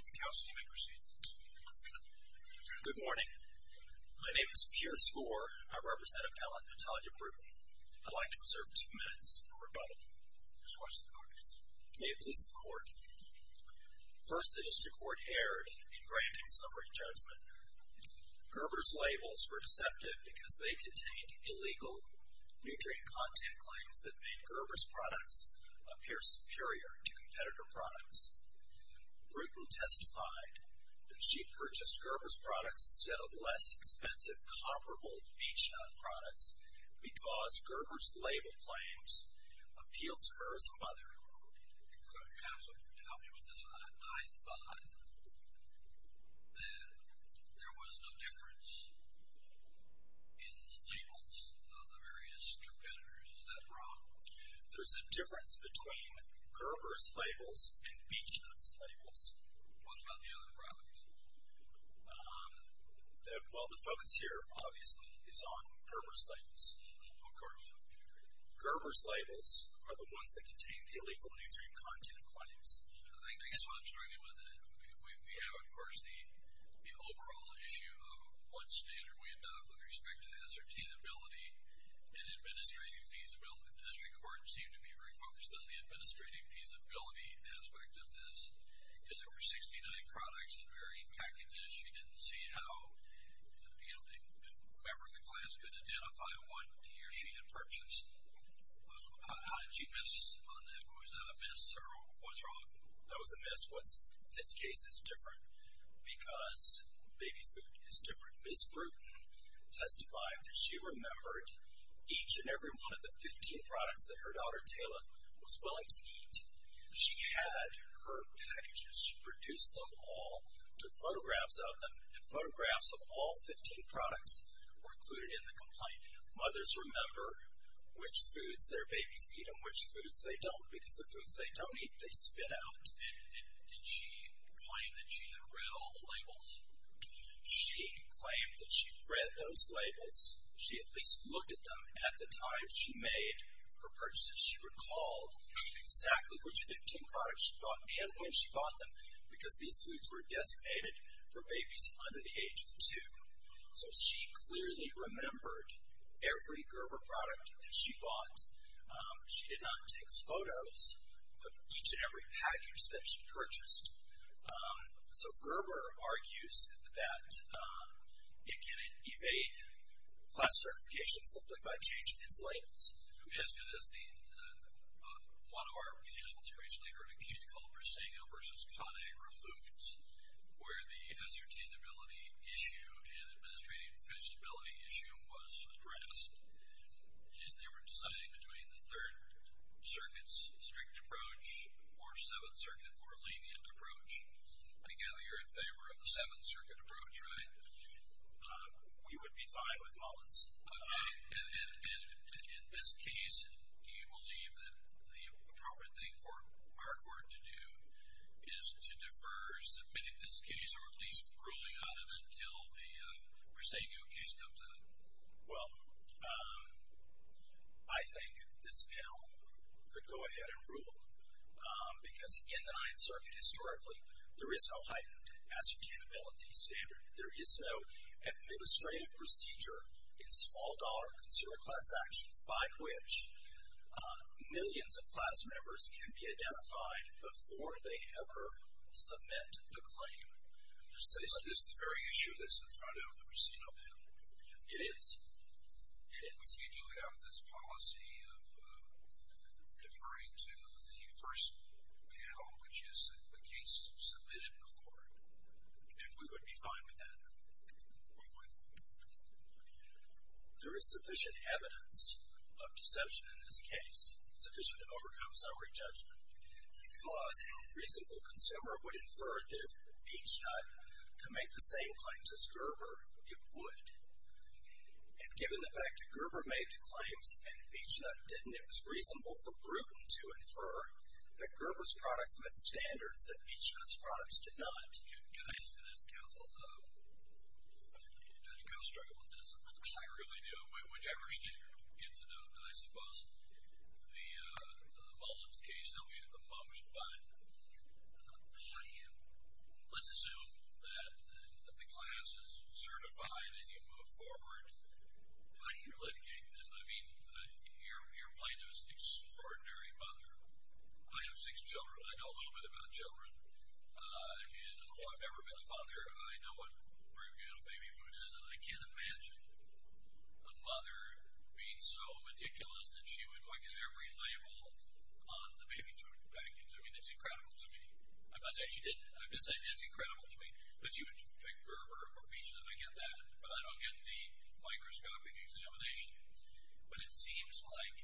Counsel, you may proceed. Good morning. My name is Pierce Gore. I represent Appellant Natalia Bruton. I'd like to reserve two minutes for rebuttal. Just watch the court. May it please the court. First, the district court erred in granting summary judgment. Gerber's labels were deceptive because they contained illegal nutrient content claims that made Gerber's products appear superior to competitor products. Bruton testified that she purchased Gerber's products instead of less expensive, comparable Beach Hut products because Gerber's label claims appealed to her as a mother. Counsel, help me with this. I thought that there was no difference in labels of the various competitors. Is that wrong? There's a difference between Gerber's labels and Beach Hut's labels. What about the other products? Well, the focus here, obviously, is on Gerber's labels. Of course. Gerber's labels are the ones that contain the illegal nutrient content claims. I guess what I'm struggling with, we have, of course, the overall issue of what standard we adopt with respect to the assertability and administrative feasibility. The district court seemed to be refocused on the administrative feasibility aspect of this. Is it for 69 products in varying packages? She didn't see how whoever in the class could identify what he or she had purchased. How did she miss on that? Was that a miss, or what's wrong? That was a miss. This case is different because baby food is different. Ms. Bruton testified that she remembered each and every one of the 15 products that her daughter, Taylor, was willing to eat. She had her packages. She produced them all, took photographs of them, and photographs of all 15 products were included in the complaint. Mothers remember which foods their babies eat and which foods they don't, because the foods they don't eat, they spit out. And did she claim that she had read all the labels? She claimed that she read those labels. She at least looked at them at the time she made her purchases. She recalled exactly which 15 products she bought and when she bought them, because these foods were designated for babies under the age of two. So she clearly remembered every Gerber product that she bought. She did not take photos of each and every package that she purchased. So Gerber argues that it can evade class certification simply by changing its labels. As good as the one of our panelist recently heard a case called Briseño versus Conagra Foods, where the ascertainability issue and administrative feasibility issue was addressed, and they were deciding between the Third Circuit's strict approach or Seventh Circuit's more lenient approach. I gather you're in favor of the Seventh Circuit approach, right? You would be fine with Mullins. Okay. And in this case, do you believe that the appropriate thing for Markward to do is to defer submitting this case or at least ruling on it until a Briseño case comes in? Well, I think this panel could go ahead and rule, because in the Ninth Circuit, historically, there is no heightened ascertainability standard. There is no administrative procedure in small-dollar consumer class actions by which millions of class members can be identified before they ever submit a claim. So is this the very issue that's in front of the Briseño panel? It is. It is. We do have this policy of deferring to the first panel, which is the case submitted before. And we would be fine with that? We would. There is sufficient evidence of deception in this case, sufficient to overcome summary judgment, because a reasonable consumer would infer that if Beech-Nut could make the same claims as Gerber, it would. And given the fact that Gerber made the claims and Beech-Nut didn't, it was reasonable for Bruton to infer that Gerber's products met standards that Beech-Nut's products did not. Can I ask that as counsel, though, do you kind of struggle with this? I really do. Whichever standard gets it, though. I suppose in the Mullins case, though, the mom should buy it. Let's assume that the class is certified and you move forward. How do you litigate this? I mean, your plaintiff is an extraordinary mother. I have six children. I know a little bit about children. And, although I've never been a father, I know what baby food is, and I can't imagine a mother being so meticulous that she would look at every label on the baby food package. I mean, it's incredible to me. I'm not saying she didn't. I'm just saying it's incredible to me that she would pick Gerber or Beech-Nut to get that, but I don't get the microscopic exoneration. But it seems like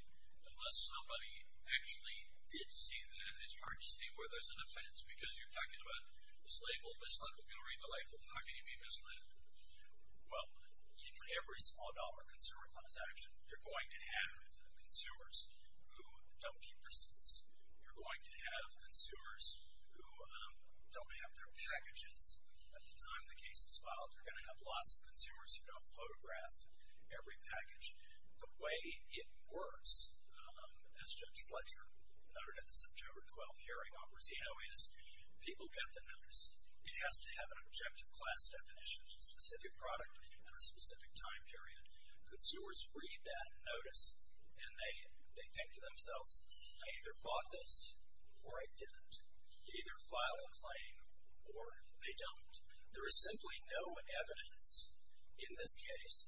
unless somebody actually did see that, it's hard to see where there's an offense because you're talking about this label, this letter. If you don't read the label, how can you be misled? Well, in every small-dollar consumer transaction, you're going to have consumers who don't keep their seats. You're going to have consumers who don't have their packages. At the time the case is filed, you're going to have lots of consumers who don't photograph every package. The way it works, as Judge Fletcher noted at the September 12th hearing, people get the notice. It has to have an objective class definition, a specific product and a specific time period. Consumers read that notice, and they think to themselves, I either bought this or I didn't. They either file a claim or they don't. There is simply no evidence in this case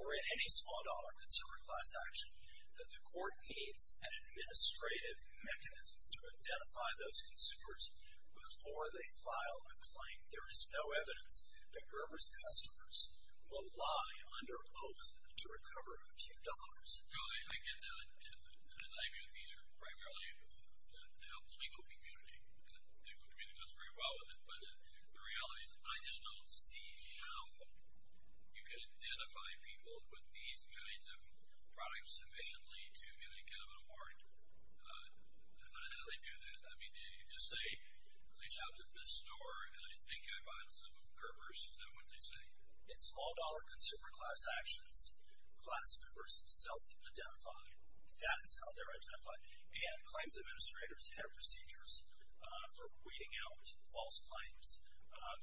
or in any small-dollar consumer transaction that the court needs an administrative mechanism to identify those consumers before they file a claim. There is no evidence that Gerber's customers will lie under oath to recover a few dollars. I get that, and I view these primarily to help the legal community. The legal community does very well with it, but the reality is I just don't see how you can identify people with these kinds of products sufficiently to get them a warrant. I don't know how they do that. You just say, they shopped at this store, and I think I bought some of Gerber's. Is that what they say? In small-dollar consumer class actions, class members self-identify. That's how they're identified. And claims administrators have procedures for weeding out false claims.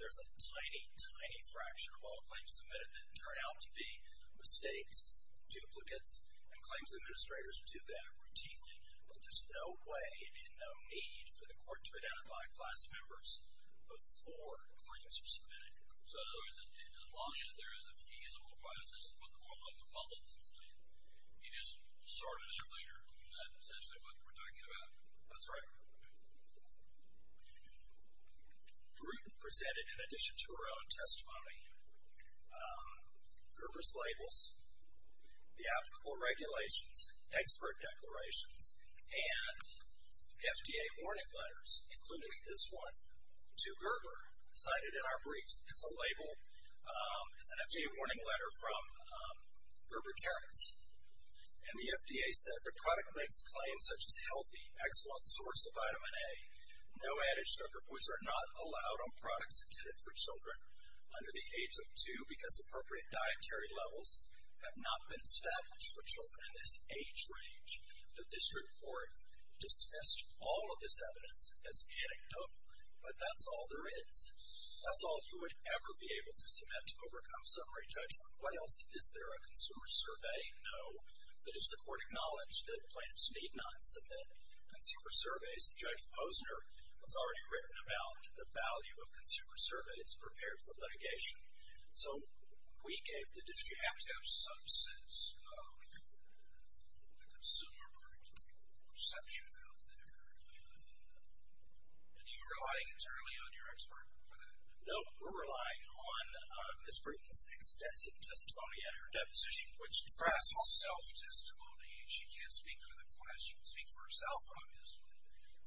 There's a tiny, tiny fracture of all claims submitted that turn out to be mistakes, duplicates, and claims administrators do that routinely. But there's no way and no need for the court to identify class members before claims are submitted. So in other words, as long as there is a feasible process, this is what the world of politics is like. You just sort it out later. That's essentially what we're talking about. That's right. The group presented, in addition to our own testimony, Gerber's labels, the applicable regulations, expert declarations, and FDA warning letters, including this one to Gerber, cited in our briefs. It's a label. It's an FDA warning letter from Gerber Carins. And the FDA said the product makes claims such as healthy, excellent source of vitamin A, no added sugar, which are not allowed on products intended for children under the age of two because appropriate dietary levels have not been established for children in this age range. The district court dismissed all of this evidence as anecdotal. But that's all there is. That's all you would ever be able to submit to overcome summary judgment. Why else is there a consumer survey? No. The district court acknowledged that plaintiffs need not submit consumer surveys. Judge Posner has already written about the value of consumer surveys prepared for litigation. So we gave the district. You have to have some sense of the consumer perception out there. And are you relying entirely on your expert for that? No. We're relying on Ms. Brinkman's extensive testimony at her deposition, which tracks self-testimony. She can't speak for the class. She can speak for herself, obviously.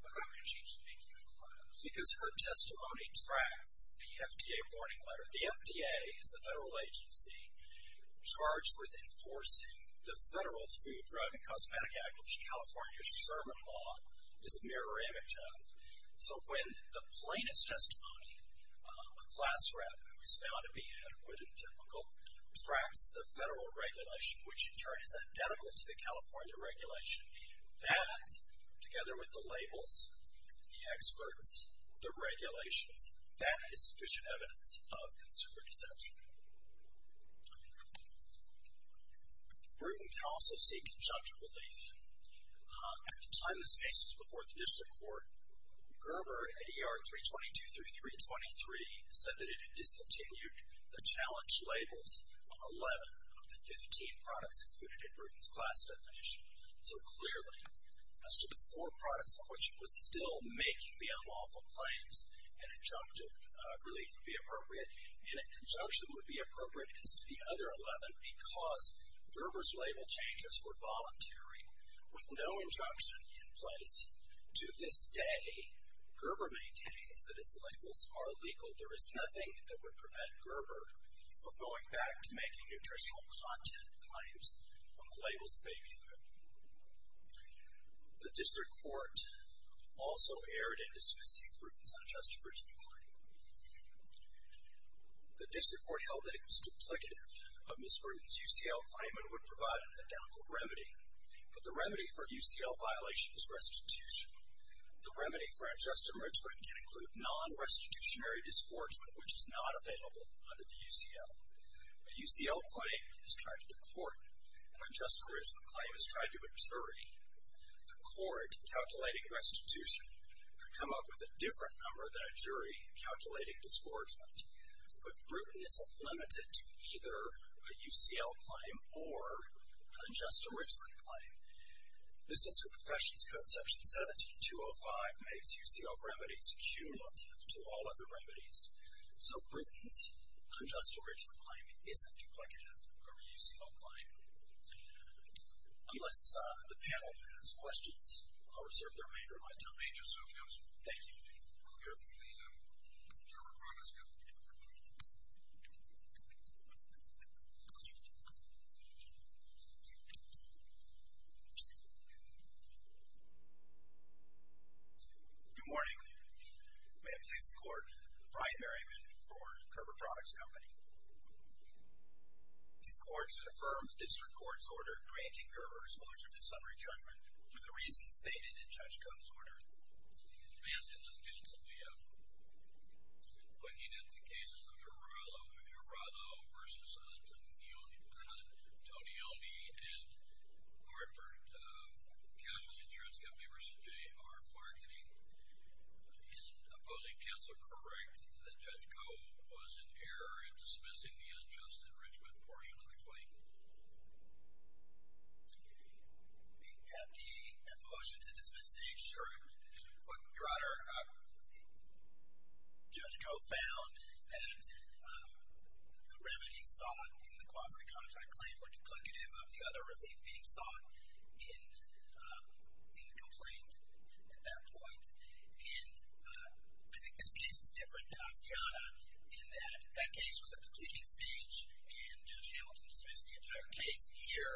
But how can she speak for the class? Because her testimony tracks the FDA warning letter. The FDA is the federal agency charged with enforcing the Federal Food, Drug, and Cosmetic Act, which California's Sherman Law is a mirror image of. So when the plaintiff's testimony, a class rep who is found to be adequate and typical, tracks the federal regulation, which in turn is identical to the California regulation, that, together with the labels, the experts, the regulations, that is sufficient evidence of consumer deception. Brinkman can also seek conjecture relief. At the time this case was before the district court, Gerber, at ER 322 through 323, said that it had discontinued the challenge labels on 11 of the 15 products included in Brinkman's class definition. So clearly, as to the four products on which it was still making the unlawful claims, an injunction relief would be appropriate. And an injunction would be appropriate as to the other 11 because Gerber's label changes were voluntary with no injunction in place. To this day, Gerber maintains that its labels are legal. There is nothing that would prevent Gerber from going back to making nutritional content claims on the labels of baby food. The district court also erred in dismissing Brinkman's unjustified claim. The district court held that it was duplicative of Ms. Brinkman's UCL claim and would provide an identical remedy. But the remedy for UCL violation is restitution. The remedy for unjust enrichment can include non-restitutionary disgorgement, which is not available under the UCL. A UCL claim is tried in court. An unjust enrichment claim is tried to a jury. The court, calculating restitution, could come up with a different number than a jury calculating disgorgement. But Britain is limited to either a UCL claim or an unjust enrichment claim. Business and Professions Code Section 17205 makes UCL remedies cumulative to all other remedies. So Britain's unjust enrichment claim isn't duplicative of a UCL claim. Unless the panel has questions, I'll reserve the remainder of my time. Thank you. Good morning. May it please the court. Brian Berryman for Gerber Products Company. These courts have affirmed the district court's order granting Gerber's motion to summary judgment for the reasons stated in Judge Koh's order. Mr. Mansfield, this is Jens. We've been looking at the cases of Gerberato v. Antonioni and Hartford Casual Insurance Company v. J.R. Marketing. Is opposing counsel correct that Judge Koh was in error in dismissing the unjust enrichment portion of the claim? Do we have the motion to dismiss these? Sure. Your Honor, Judge Koh found that the remedies sought in the quasi-contract claim were duplicative of the other relief being sought in the complaint at that point. And I think this case is different than Asciana in that that case was at the pleading stage and Judge Hamilton dismissed the entire case here.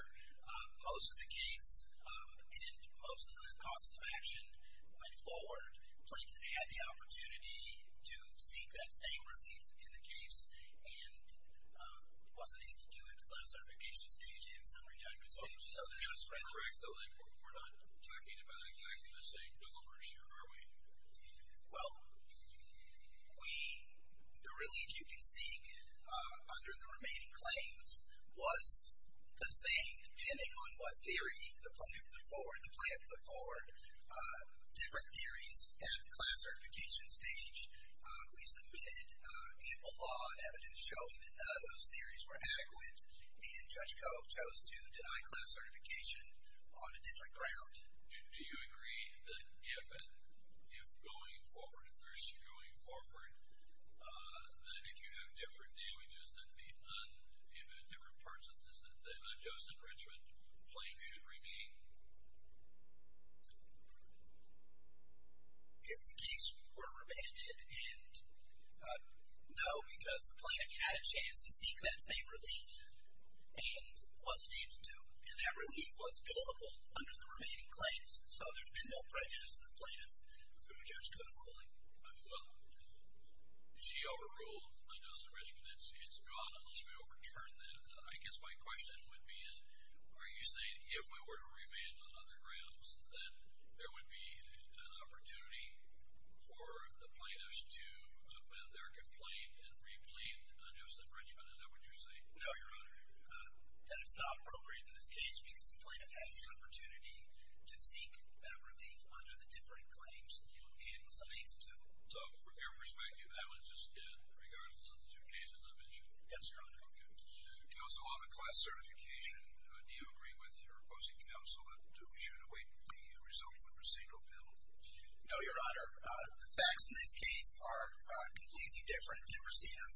Most of the case and most of the costs of action went forward. Plaintiffs had the opportunity to seek that same relief in the case and wasn't able to do it until that certification stage and summary judgment stage. So the judge corrects the label. We're not talking about exactly the same delivery here, are we? Well, the relief you can seek under the remaining claims was the same depending on what theory the plaintiff put forward. Different theories at the class certification stage. We submitted ample law and evidence showing that none of those theories were adequate and Judge Koh chose to deny class certification on a different ground. Do you agree that if going forward versus going forward, that if you have different damages that meet on different parts of the system, a Joseph Richmond complaint should remain? If the case were abandoned, no, because the plaintiff had a chance to seek that same relief and wasn't able to and that relief was available under the remaining claims. So there's been no prejudice to the plaintiff through Judge Koh's ruling. Well, she overruled a Joseph Richmond. It's gone unless we overturn that. I guess my question would be is, are you saying if we were to remand on other grounds, then there would be an opportunity for the plaintiffs to amend their complaint and reclaim a Joseph Richmond? Is that what you're saying? No, Your Honor. That it's not appropriate in this case because the plaintiff had the opportunity to seek that relief under the different claims and was unable to. So from your perspective, that was just dead regardless of the two cases I mentioned? Yes, Your Honor. Okay. Counsel, on the class certification, do you agree with your opposing counsel that we should await the results of the procedural appeal? No, Your Honor. The facts in this case are completely different than received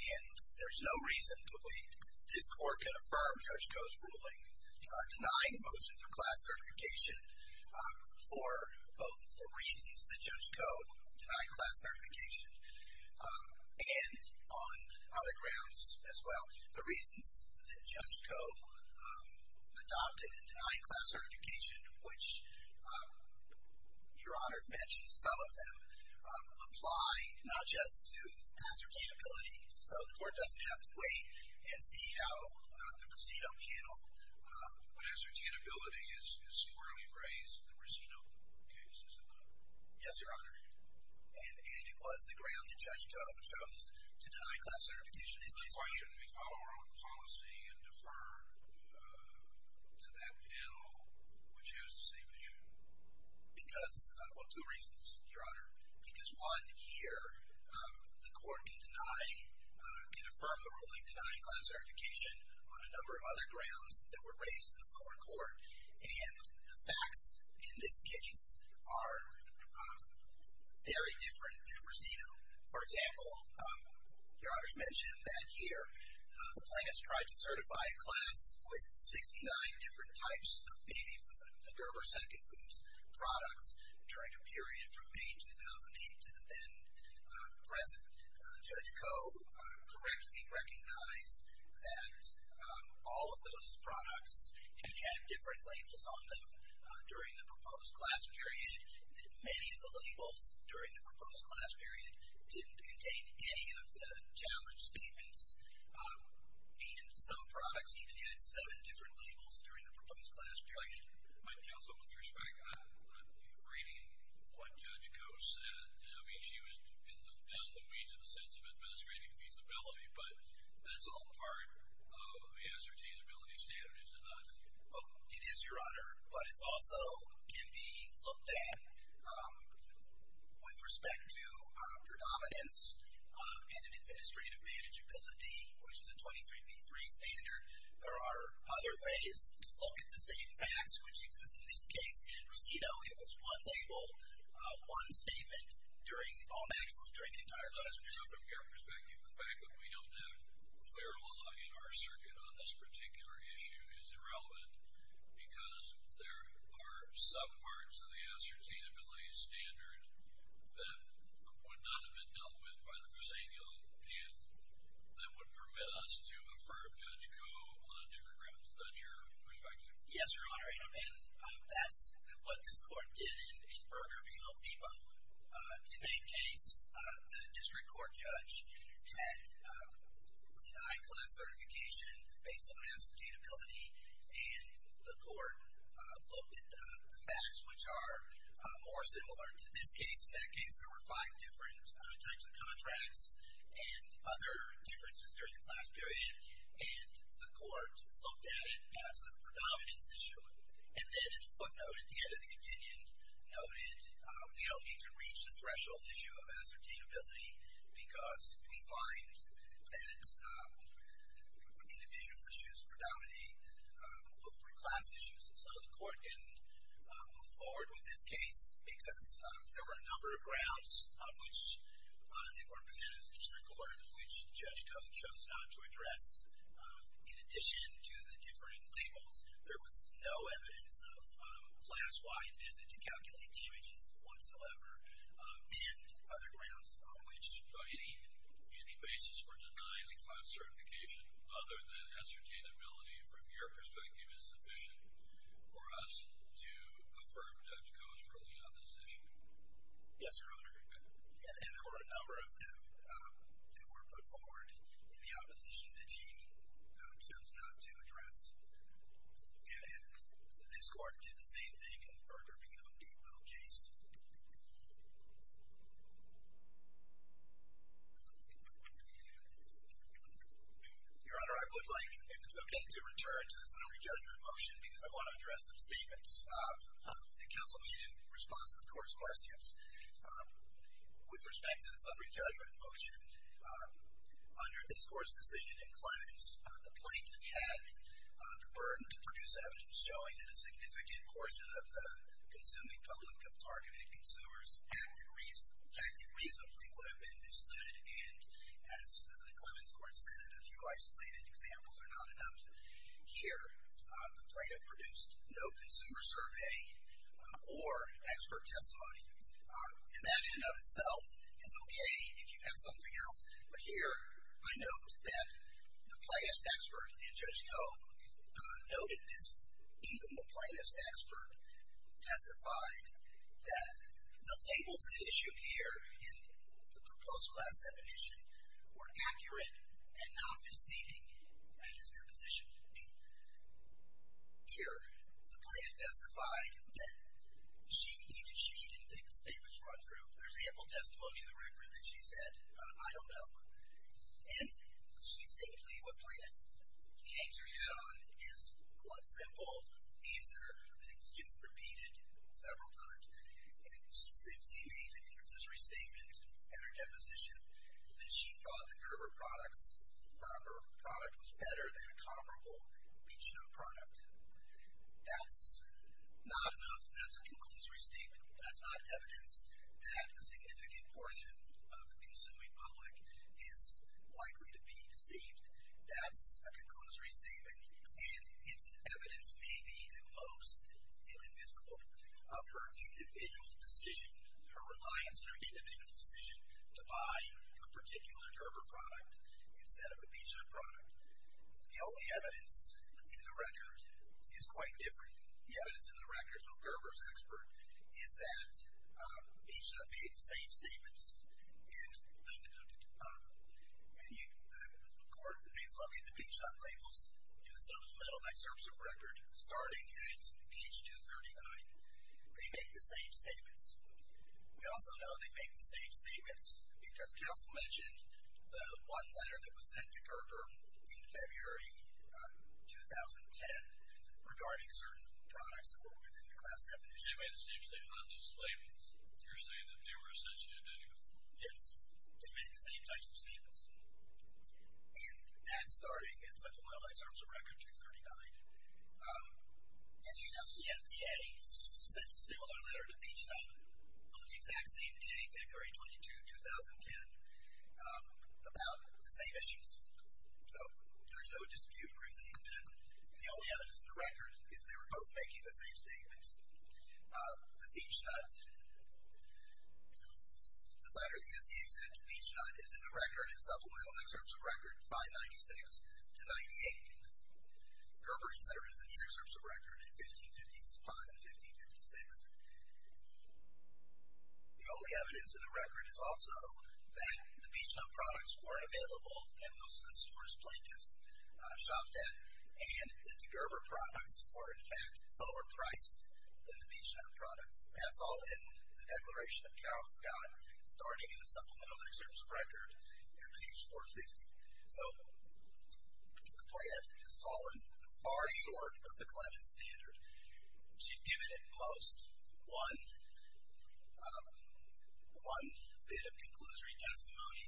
and there's no reason to believe this court can affirm Judge Koh's ruling denying the motion for class certification for both the reasons that Judge Koh denied class certification and on other grounds as well. The reasons that Judge Koh adopted and denied class certification, which Your Honor has mentioned some of them, apply not just to ascertainability, so the court doesn't have to wait and see how the procedural panel. But ascertainability is squarely raised in the procedural case, is it not? Yes, Your Honor. And it was the ground that Judge Koh chose to deny class certification. Is that why shouldn't we follow our own policy and defer to that panel which has the same issue? Because, well, two reasons, Your Honor. Because one, here, the court can deny, can affirm the ruling denying class certification on a number of other grounds that were raised in the lower court. And the facts in this case are very different than received them. For example, Your Honor's mentioned that here the plaintiff's tried to certify a class with 69 different types of baby food, Gerber Second Foods products during a period from May 2008 to the then present. Judge Koh correctly recognized that all of those products had had different labels on them during the proposed class period. Many of the labels during the proposed class period didn't contain any of the challenge statements. And some products even had seven different labels during the proposed class period. My counsel, with respect, I'm reading what Judge Koh said. I mean, she was in the weeds in the sense of administrating feasibility, but that's all part of the ascertainability standards, is it not? Well, it is, Your Honor. But it also can be looked at with respect to predominance and administrative manageability, which is a 23B3 standard. There are other ways to look at the same facts, which exist in this case. In Presido, it was one label, one statement during all maximums during the entire class period. From your perspective, the fact that we don't have clear law in our circuit on this particular issue is irrelevant because there are some parts of the ascertainability standard that would not have been dealt with by the Presidio and that would permit us to affirm Judge Koh on a different ground. Is that your perspective? Yes, Your Honor. And that's what this court did in Berger v. Lopeba. In that case, the district court judge had high-class certification based on the ascertainability. And the court looked at the facts, which are more similar to this case. In that case, there were five different types of contracts and other differences during the class period. And the court looked at it as a predominance issue. And then it footnoted the end of the opinion, noted we don't need to reach the threshold issue of ascertainability because we find that individual issues predominate over class issues. So the court can move forward with this case because there were a number of grounds on which the court presented to the district court which Judge Koh chose not to address. In addition to the different labels, there was no evidence of a class-wide method to calculate damages whatsoever and other grounds on which any basis for denying the class certification other than ascertainability, from your perspective, is sufficient for us to affirm Judge Koh's ruling on this issue? Yes, Your Honor. And there were a number of them that were put forward in the opposition that she chose not to address. And this court did the same thing in the Berger v. Lopeba case. Your Honor, I would like, if it's okay, to return to the summary judgment motion because I want to address some statements that counsel made in response to the court's questions. With respect to the summary judgment motion, under this court's decision in Clemens, the plaintiff had the burden to produce evidence showing that a significant portion of the consuming public authority acted reasonably would have been misstood. And as the Clemens court said, a few isolated examples are not enough. Here, the plaintiff produced no consumer survey or expert testimony. And that in and of itself is okay if you have something else. But here I note that the plaintiff's expert and Judge Koh noted this. Even the plaintiff's expert testified that the labels at issue here in the proposed class definition were accurate and not misleading. That is her position. Here, the plaintiff testified that even she didn't think the statements were untrue. There's ample testimony in the record that she said, I don't know. And she simply, what the plaintiff hangs her head on is one simple answer that's just repeated several times. And she simply made the conclusory statement at her deposition that she thought that her product was better than a comparable Beechnoe product. That's not enough. That's a conclusory statement. That's not evidence that a significant portion of the consuming public is likely to be deceived. That's a conclusory statement. And its evidence may be the most inadmissible of her individual decision, her reliance on her individual decision to buy a particular Gerber product instead of a Beechnoe product. The only evidence in the record is quite different. The evidence in the record from Gerber's expert is that Beechnoe made the same statements and the court did a look at the Beechnoe labels in the settlement of the metal neck service of record starting at page 239. They make the same statements. We also know they make the same statements because counsel mentioned the one letter that was sent to Gerber in February 2010 regarding certain products that were within the class definition. They made the same statement on the slavings. You're saying that they were essentially identical. Yes. They made the same types of statements. And that's starting at settlement of the metal neck service of record 239. And you know the FDA sent a similar letter to Beechnoe on the exact same day, February 22, 2010, about the same issues. So there's no dispute really. The only evidence in the record is they were both making the same statements. The Beechnoe, the letter the FDA sent to Beechnoe is in the record in supplemental excerpts of record 596 to 98. Gerber's letter is in these excerpts of record in 1556. The only evidence in the record is also that the Beechnoe products weren't available and most of the stores plaintiffs shopped at. And the Gerber products were in fact lower priced than the Beechnoe products. That's all in the declaration of Carroll Scott, starting in the supplemental excerpts of record at page 450. So the plaintiff has fallen far short of the clemency standard. She's given at most one bit of conclusory testimony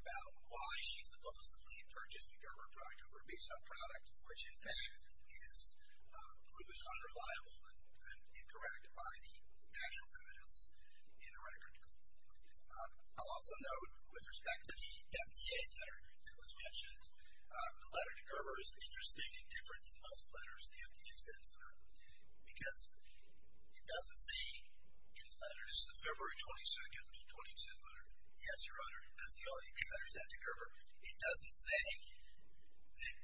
about why she supposedly purchased a Gerber product over a Beechnoe product, which in fact is proven unreliable and incorrect by the actual evidence in the record. I'll also note with respect to the FDA letter that was mentioned, the letter to Gerber is interesting and different than most letters the FDA sends out because it doesn't say in the letters, the February 22 letter, yes, Your Honor, that's the only letter sent to Gerber. It doesn't say that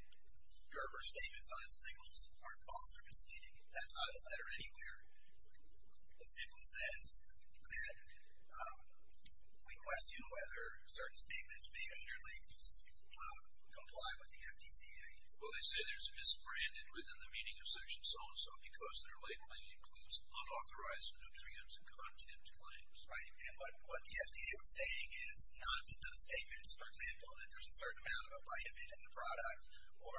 Gerber's statements on its labels are false or misleading. That's not a letter anywhere. The label says that we question whether certain statements being underlinked comply with the FDCA. Well, they say there's misbranded within the meaning of section so-and-so because their labeling includes unauthorized nutrients and content claims. Right. And what the FDA was saying is not that those statements, for example, that there's a certain amount of a vitamin in the product or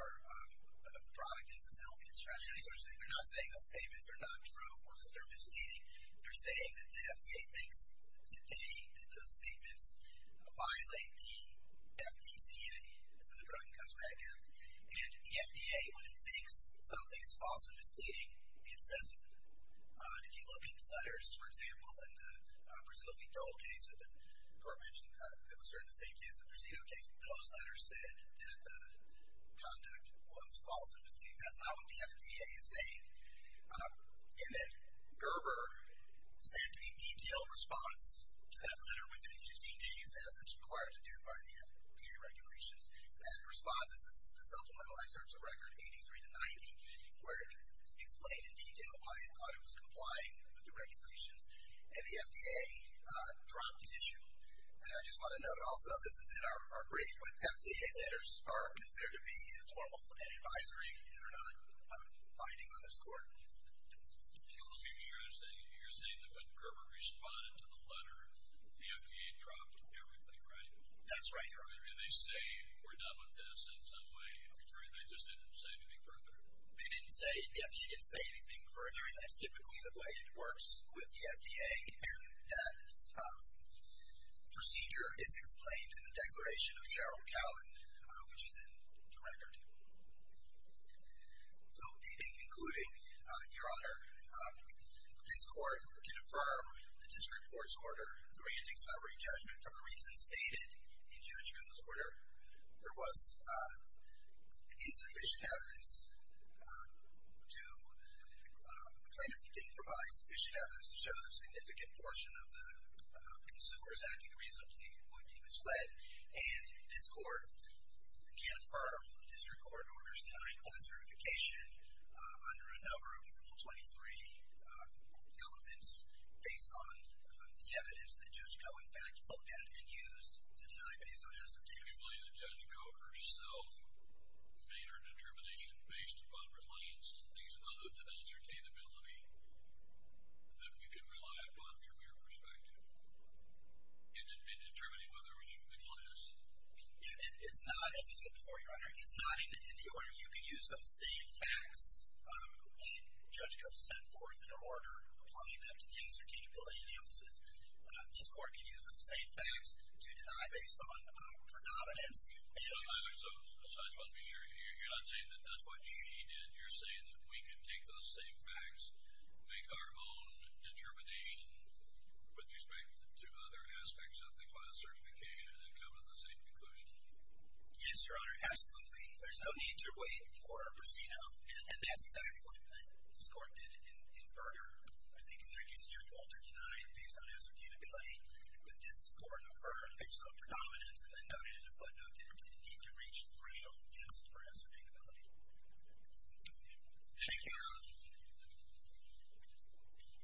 the product isn't healthy, especially, they're not saying those statements are not true or that they're misleading. They're saying that the FDA thinks that they, that those statements, violate the FDCA, the Drug and Cosmetic Act. And the FDA, when it thinks something is false or misleading, it says it. If you look at these letters, for example, in the Brazilian parole case that the Court mentioned, that was served the same day as the Presidio case, those letters said that the conduct was false or misleading. That's not what the FDA is saying. And then Gerber sent a detailed response to that letter within 15 days, as it's required to do by the FDA regulations. That response is the supplemental excerpts of Record 83-90, where it explained in detail why it thought it was complying with the regulations, and the FDA dropped the issue. And I just want to note also, this is in our brief, but FDA letters are considered to be informal and advisory. They're not binding on this Court. You're saying that when Gerber responded to the letter, the FDA dropped everything, right? That's right. They say, we're done with this in some way. They just didn't say anything further. They didn't say, the FDA didn't say anything further, and that's typically the way it works with the FDA. And that procedure is explained in the Declaration of Cheryl Cowan, which is in the record. So, in concluding, Your Honor, this Court can affirm the District Court's order granting summary judgment on the reasons stated in Judge Miller's order. There was insufficient evidence to kind of provide sufficient evidence to show the significant portion of the consumers acting reasonably would be misled. And this Court can affirm the District Court order's denial of certification under a number of Rule 23 elements, based on the evidence that Judge Koh, in fact, looked at and used to deny based on ascertainability. Usually the Judge Koh herself made her determination based upon reliance on things other than ascertainability. That you can rely upon from your perspective in determining whether or not you can disclose. It's not, as you said before, Your Honor, it's not in the order you can use those same facts that Judge Koh set forth in her order, applying them to the ascertainability of the illnesses. This Court can use those same facts to deny based on predominance. So, I just want to be sure, you're not saying that that's what she did. You're saying that we can take those same facts, make our own determination with respect to other aspects of the class certification, and come to the same conclusion. Yes, Your Honor, absolutely. There's no need to wait for a procedo, and that's exactly what this Court did in Berger. I think in that case, Judge Walter denied based on ascertainability. This Court affirmed based on predominance, and then noted in the footnote that it did not reach the threshold against ascertainability. Thank you, Your Honor.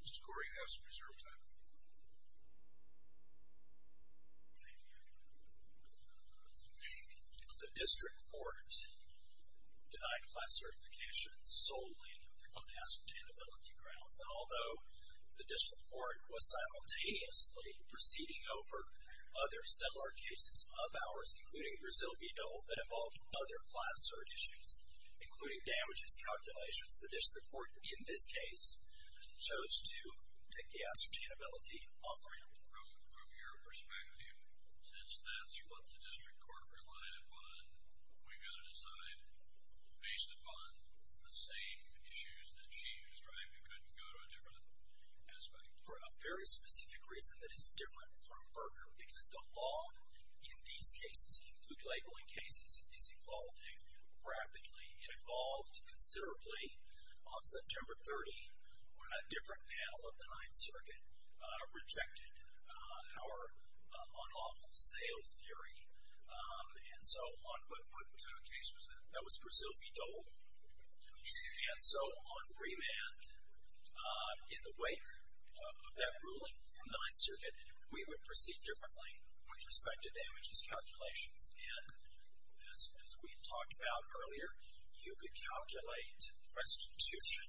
Mr. Corey, you have some reserve time. Thank you, Your Honor. The District Court denied class certification solely on ascertainability grounds. Although the District Court was simultaneously proceeding over other similar cases of ours, including a Brazil v. Dole that involved other class cert issues, including damages, calculations, the District Court, in this case, chose to take the ascertainability offering. From your perspective, since that's what the District Court relied upon, we've got to decide based upon the same issues that she was driving. We couldn't go to a different aspect. For a very specific reason that is different from Berger, because the law in these cases, including labeling cases, is evolving rapidly. It evolved considerably on September 30, when a different panel of the Ninth Circuit rejected our unlawful sale theory. And so on what case was that? That was Brazil v. Dole. And so on remand, in the wake of that ruling from the Ninth Circuit, we would proceed differently with respect to damages calculations. And as we had talked about earlier, you could calculate restitution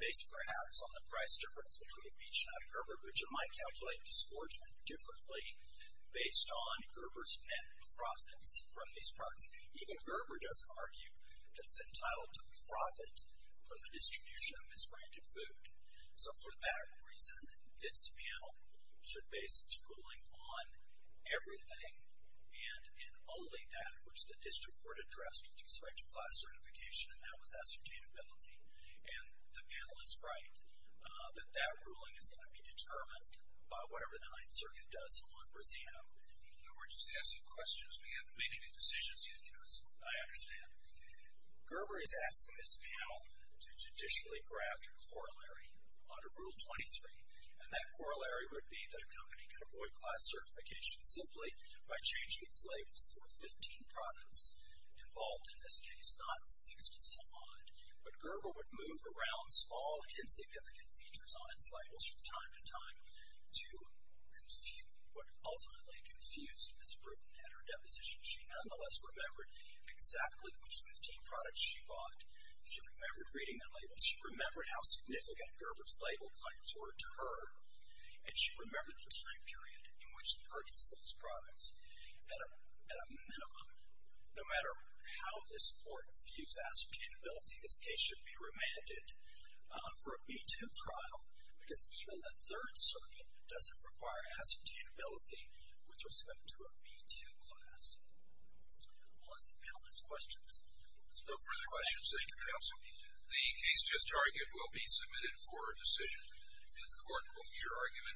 based, perhaps, on the price difference between a beach and a Gerber, but you might calculate disgorgement differently based on Gerber's net profits from these parts. Even Gerber does argue that it's entitled to profit from the distribution of misbranded food. So for that reason, this panel should base its ruling on everything and only that which the District Court addressed with respect to class certification, and that was ascertainability. And the panel is right that that ruling is going to be determined by whatever the Ninth Circuit does on Brazil. Now, we're just asking questions. We haven't made any decisions yet, as I understand. Gerber is asking this panel to judicially draft a corollary under Rule 23, and that corollary would be that a company could avoid class certification simply by changing its labels. There were 15 products involved in this case, not 60-some-odd, but Gerber would move around small insignificant features on its labels from time to time to what ultimately confused Ms. Bruton at her deposition. She nonetheless remembered exactly which 15 products she bought. She remembered reading the labels. She remembered how significant Gerber's label claims were to her, and she remembered the time period in which she purchased those products at a minimum. No matter how this Court views ascertainability, this case should be remanded for a B-2 trial because even the Third Circuit doesn't require ascertainability with respect to a B-2 class. We'll ask the panel next question. There's no further questions. Thank you, Counsel. The case just argued will be submitted for a decision. The Court will hear argument.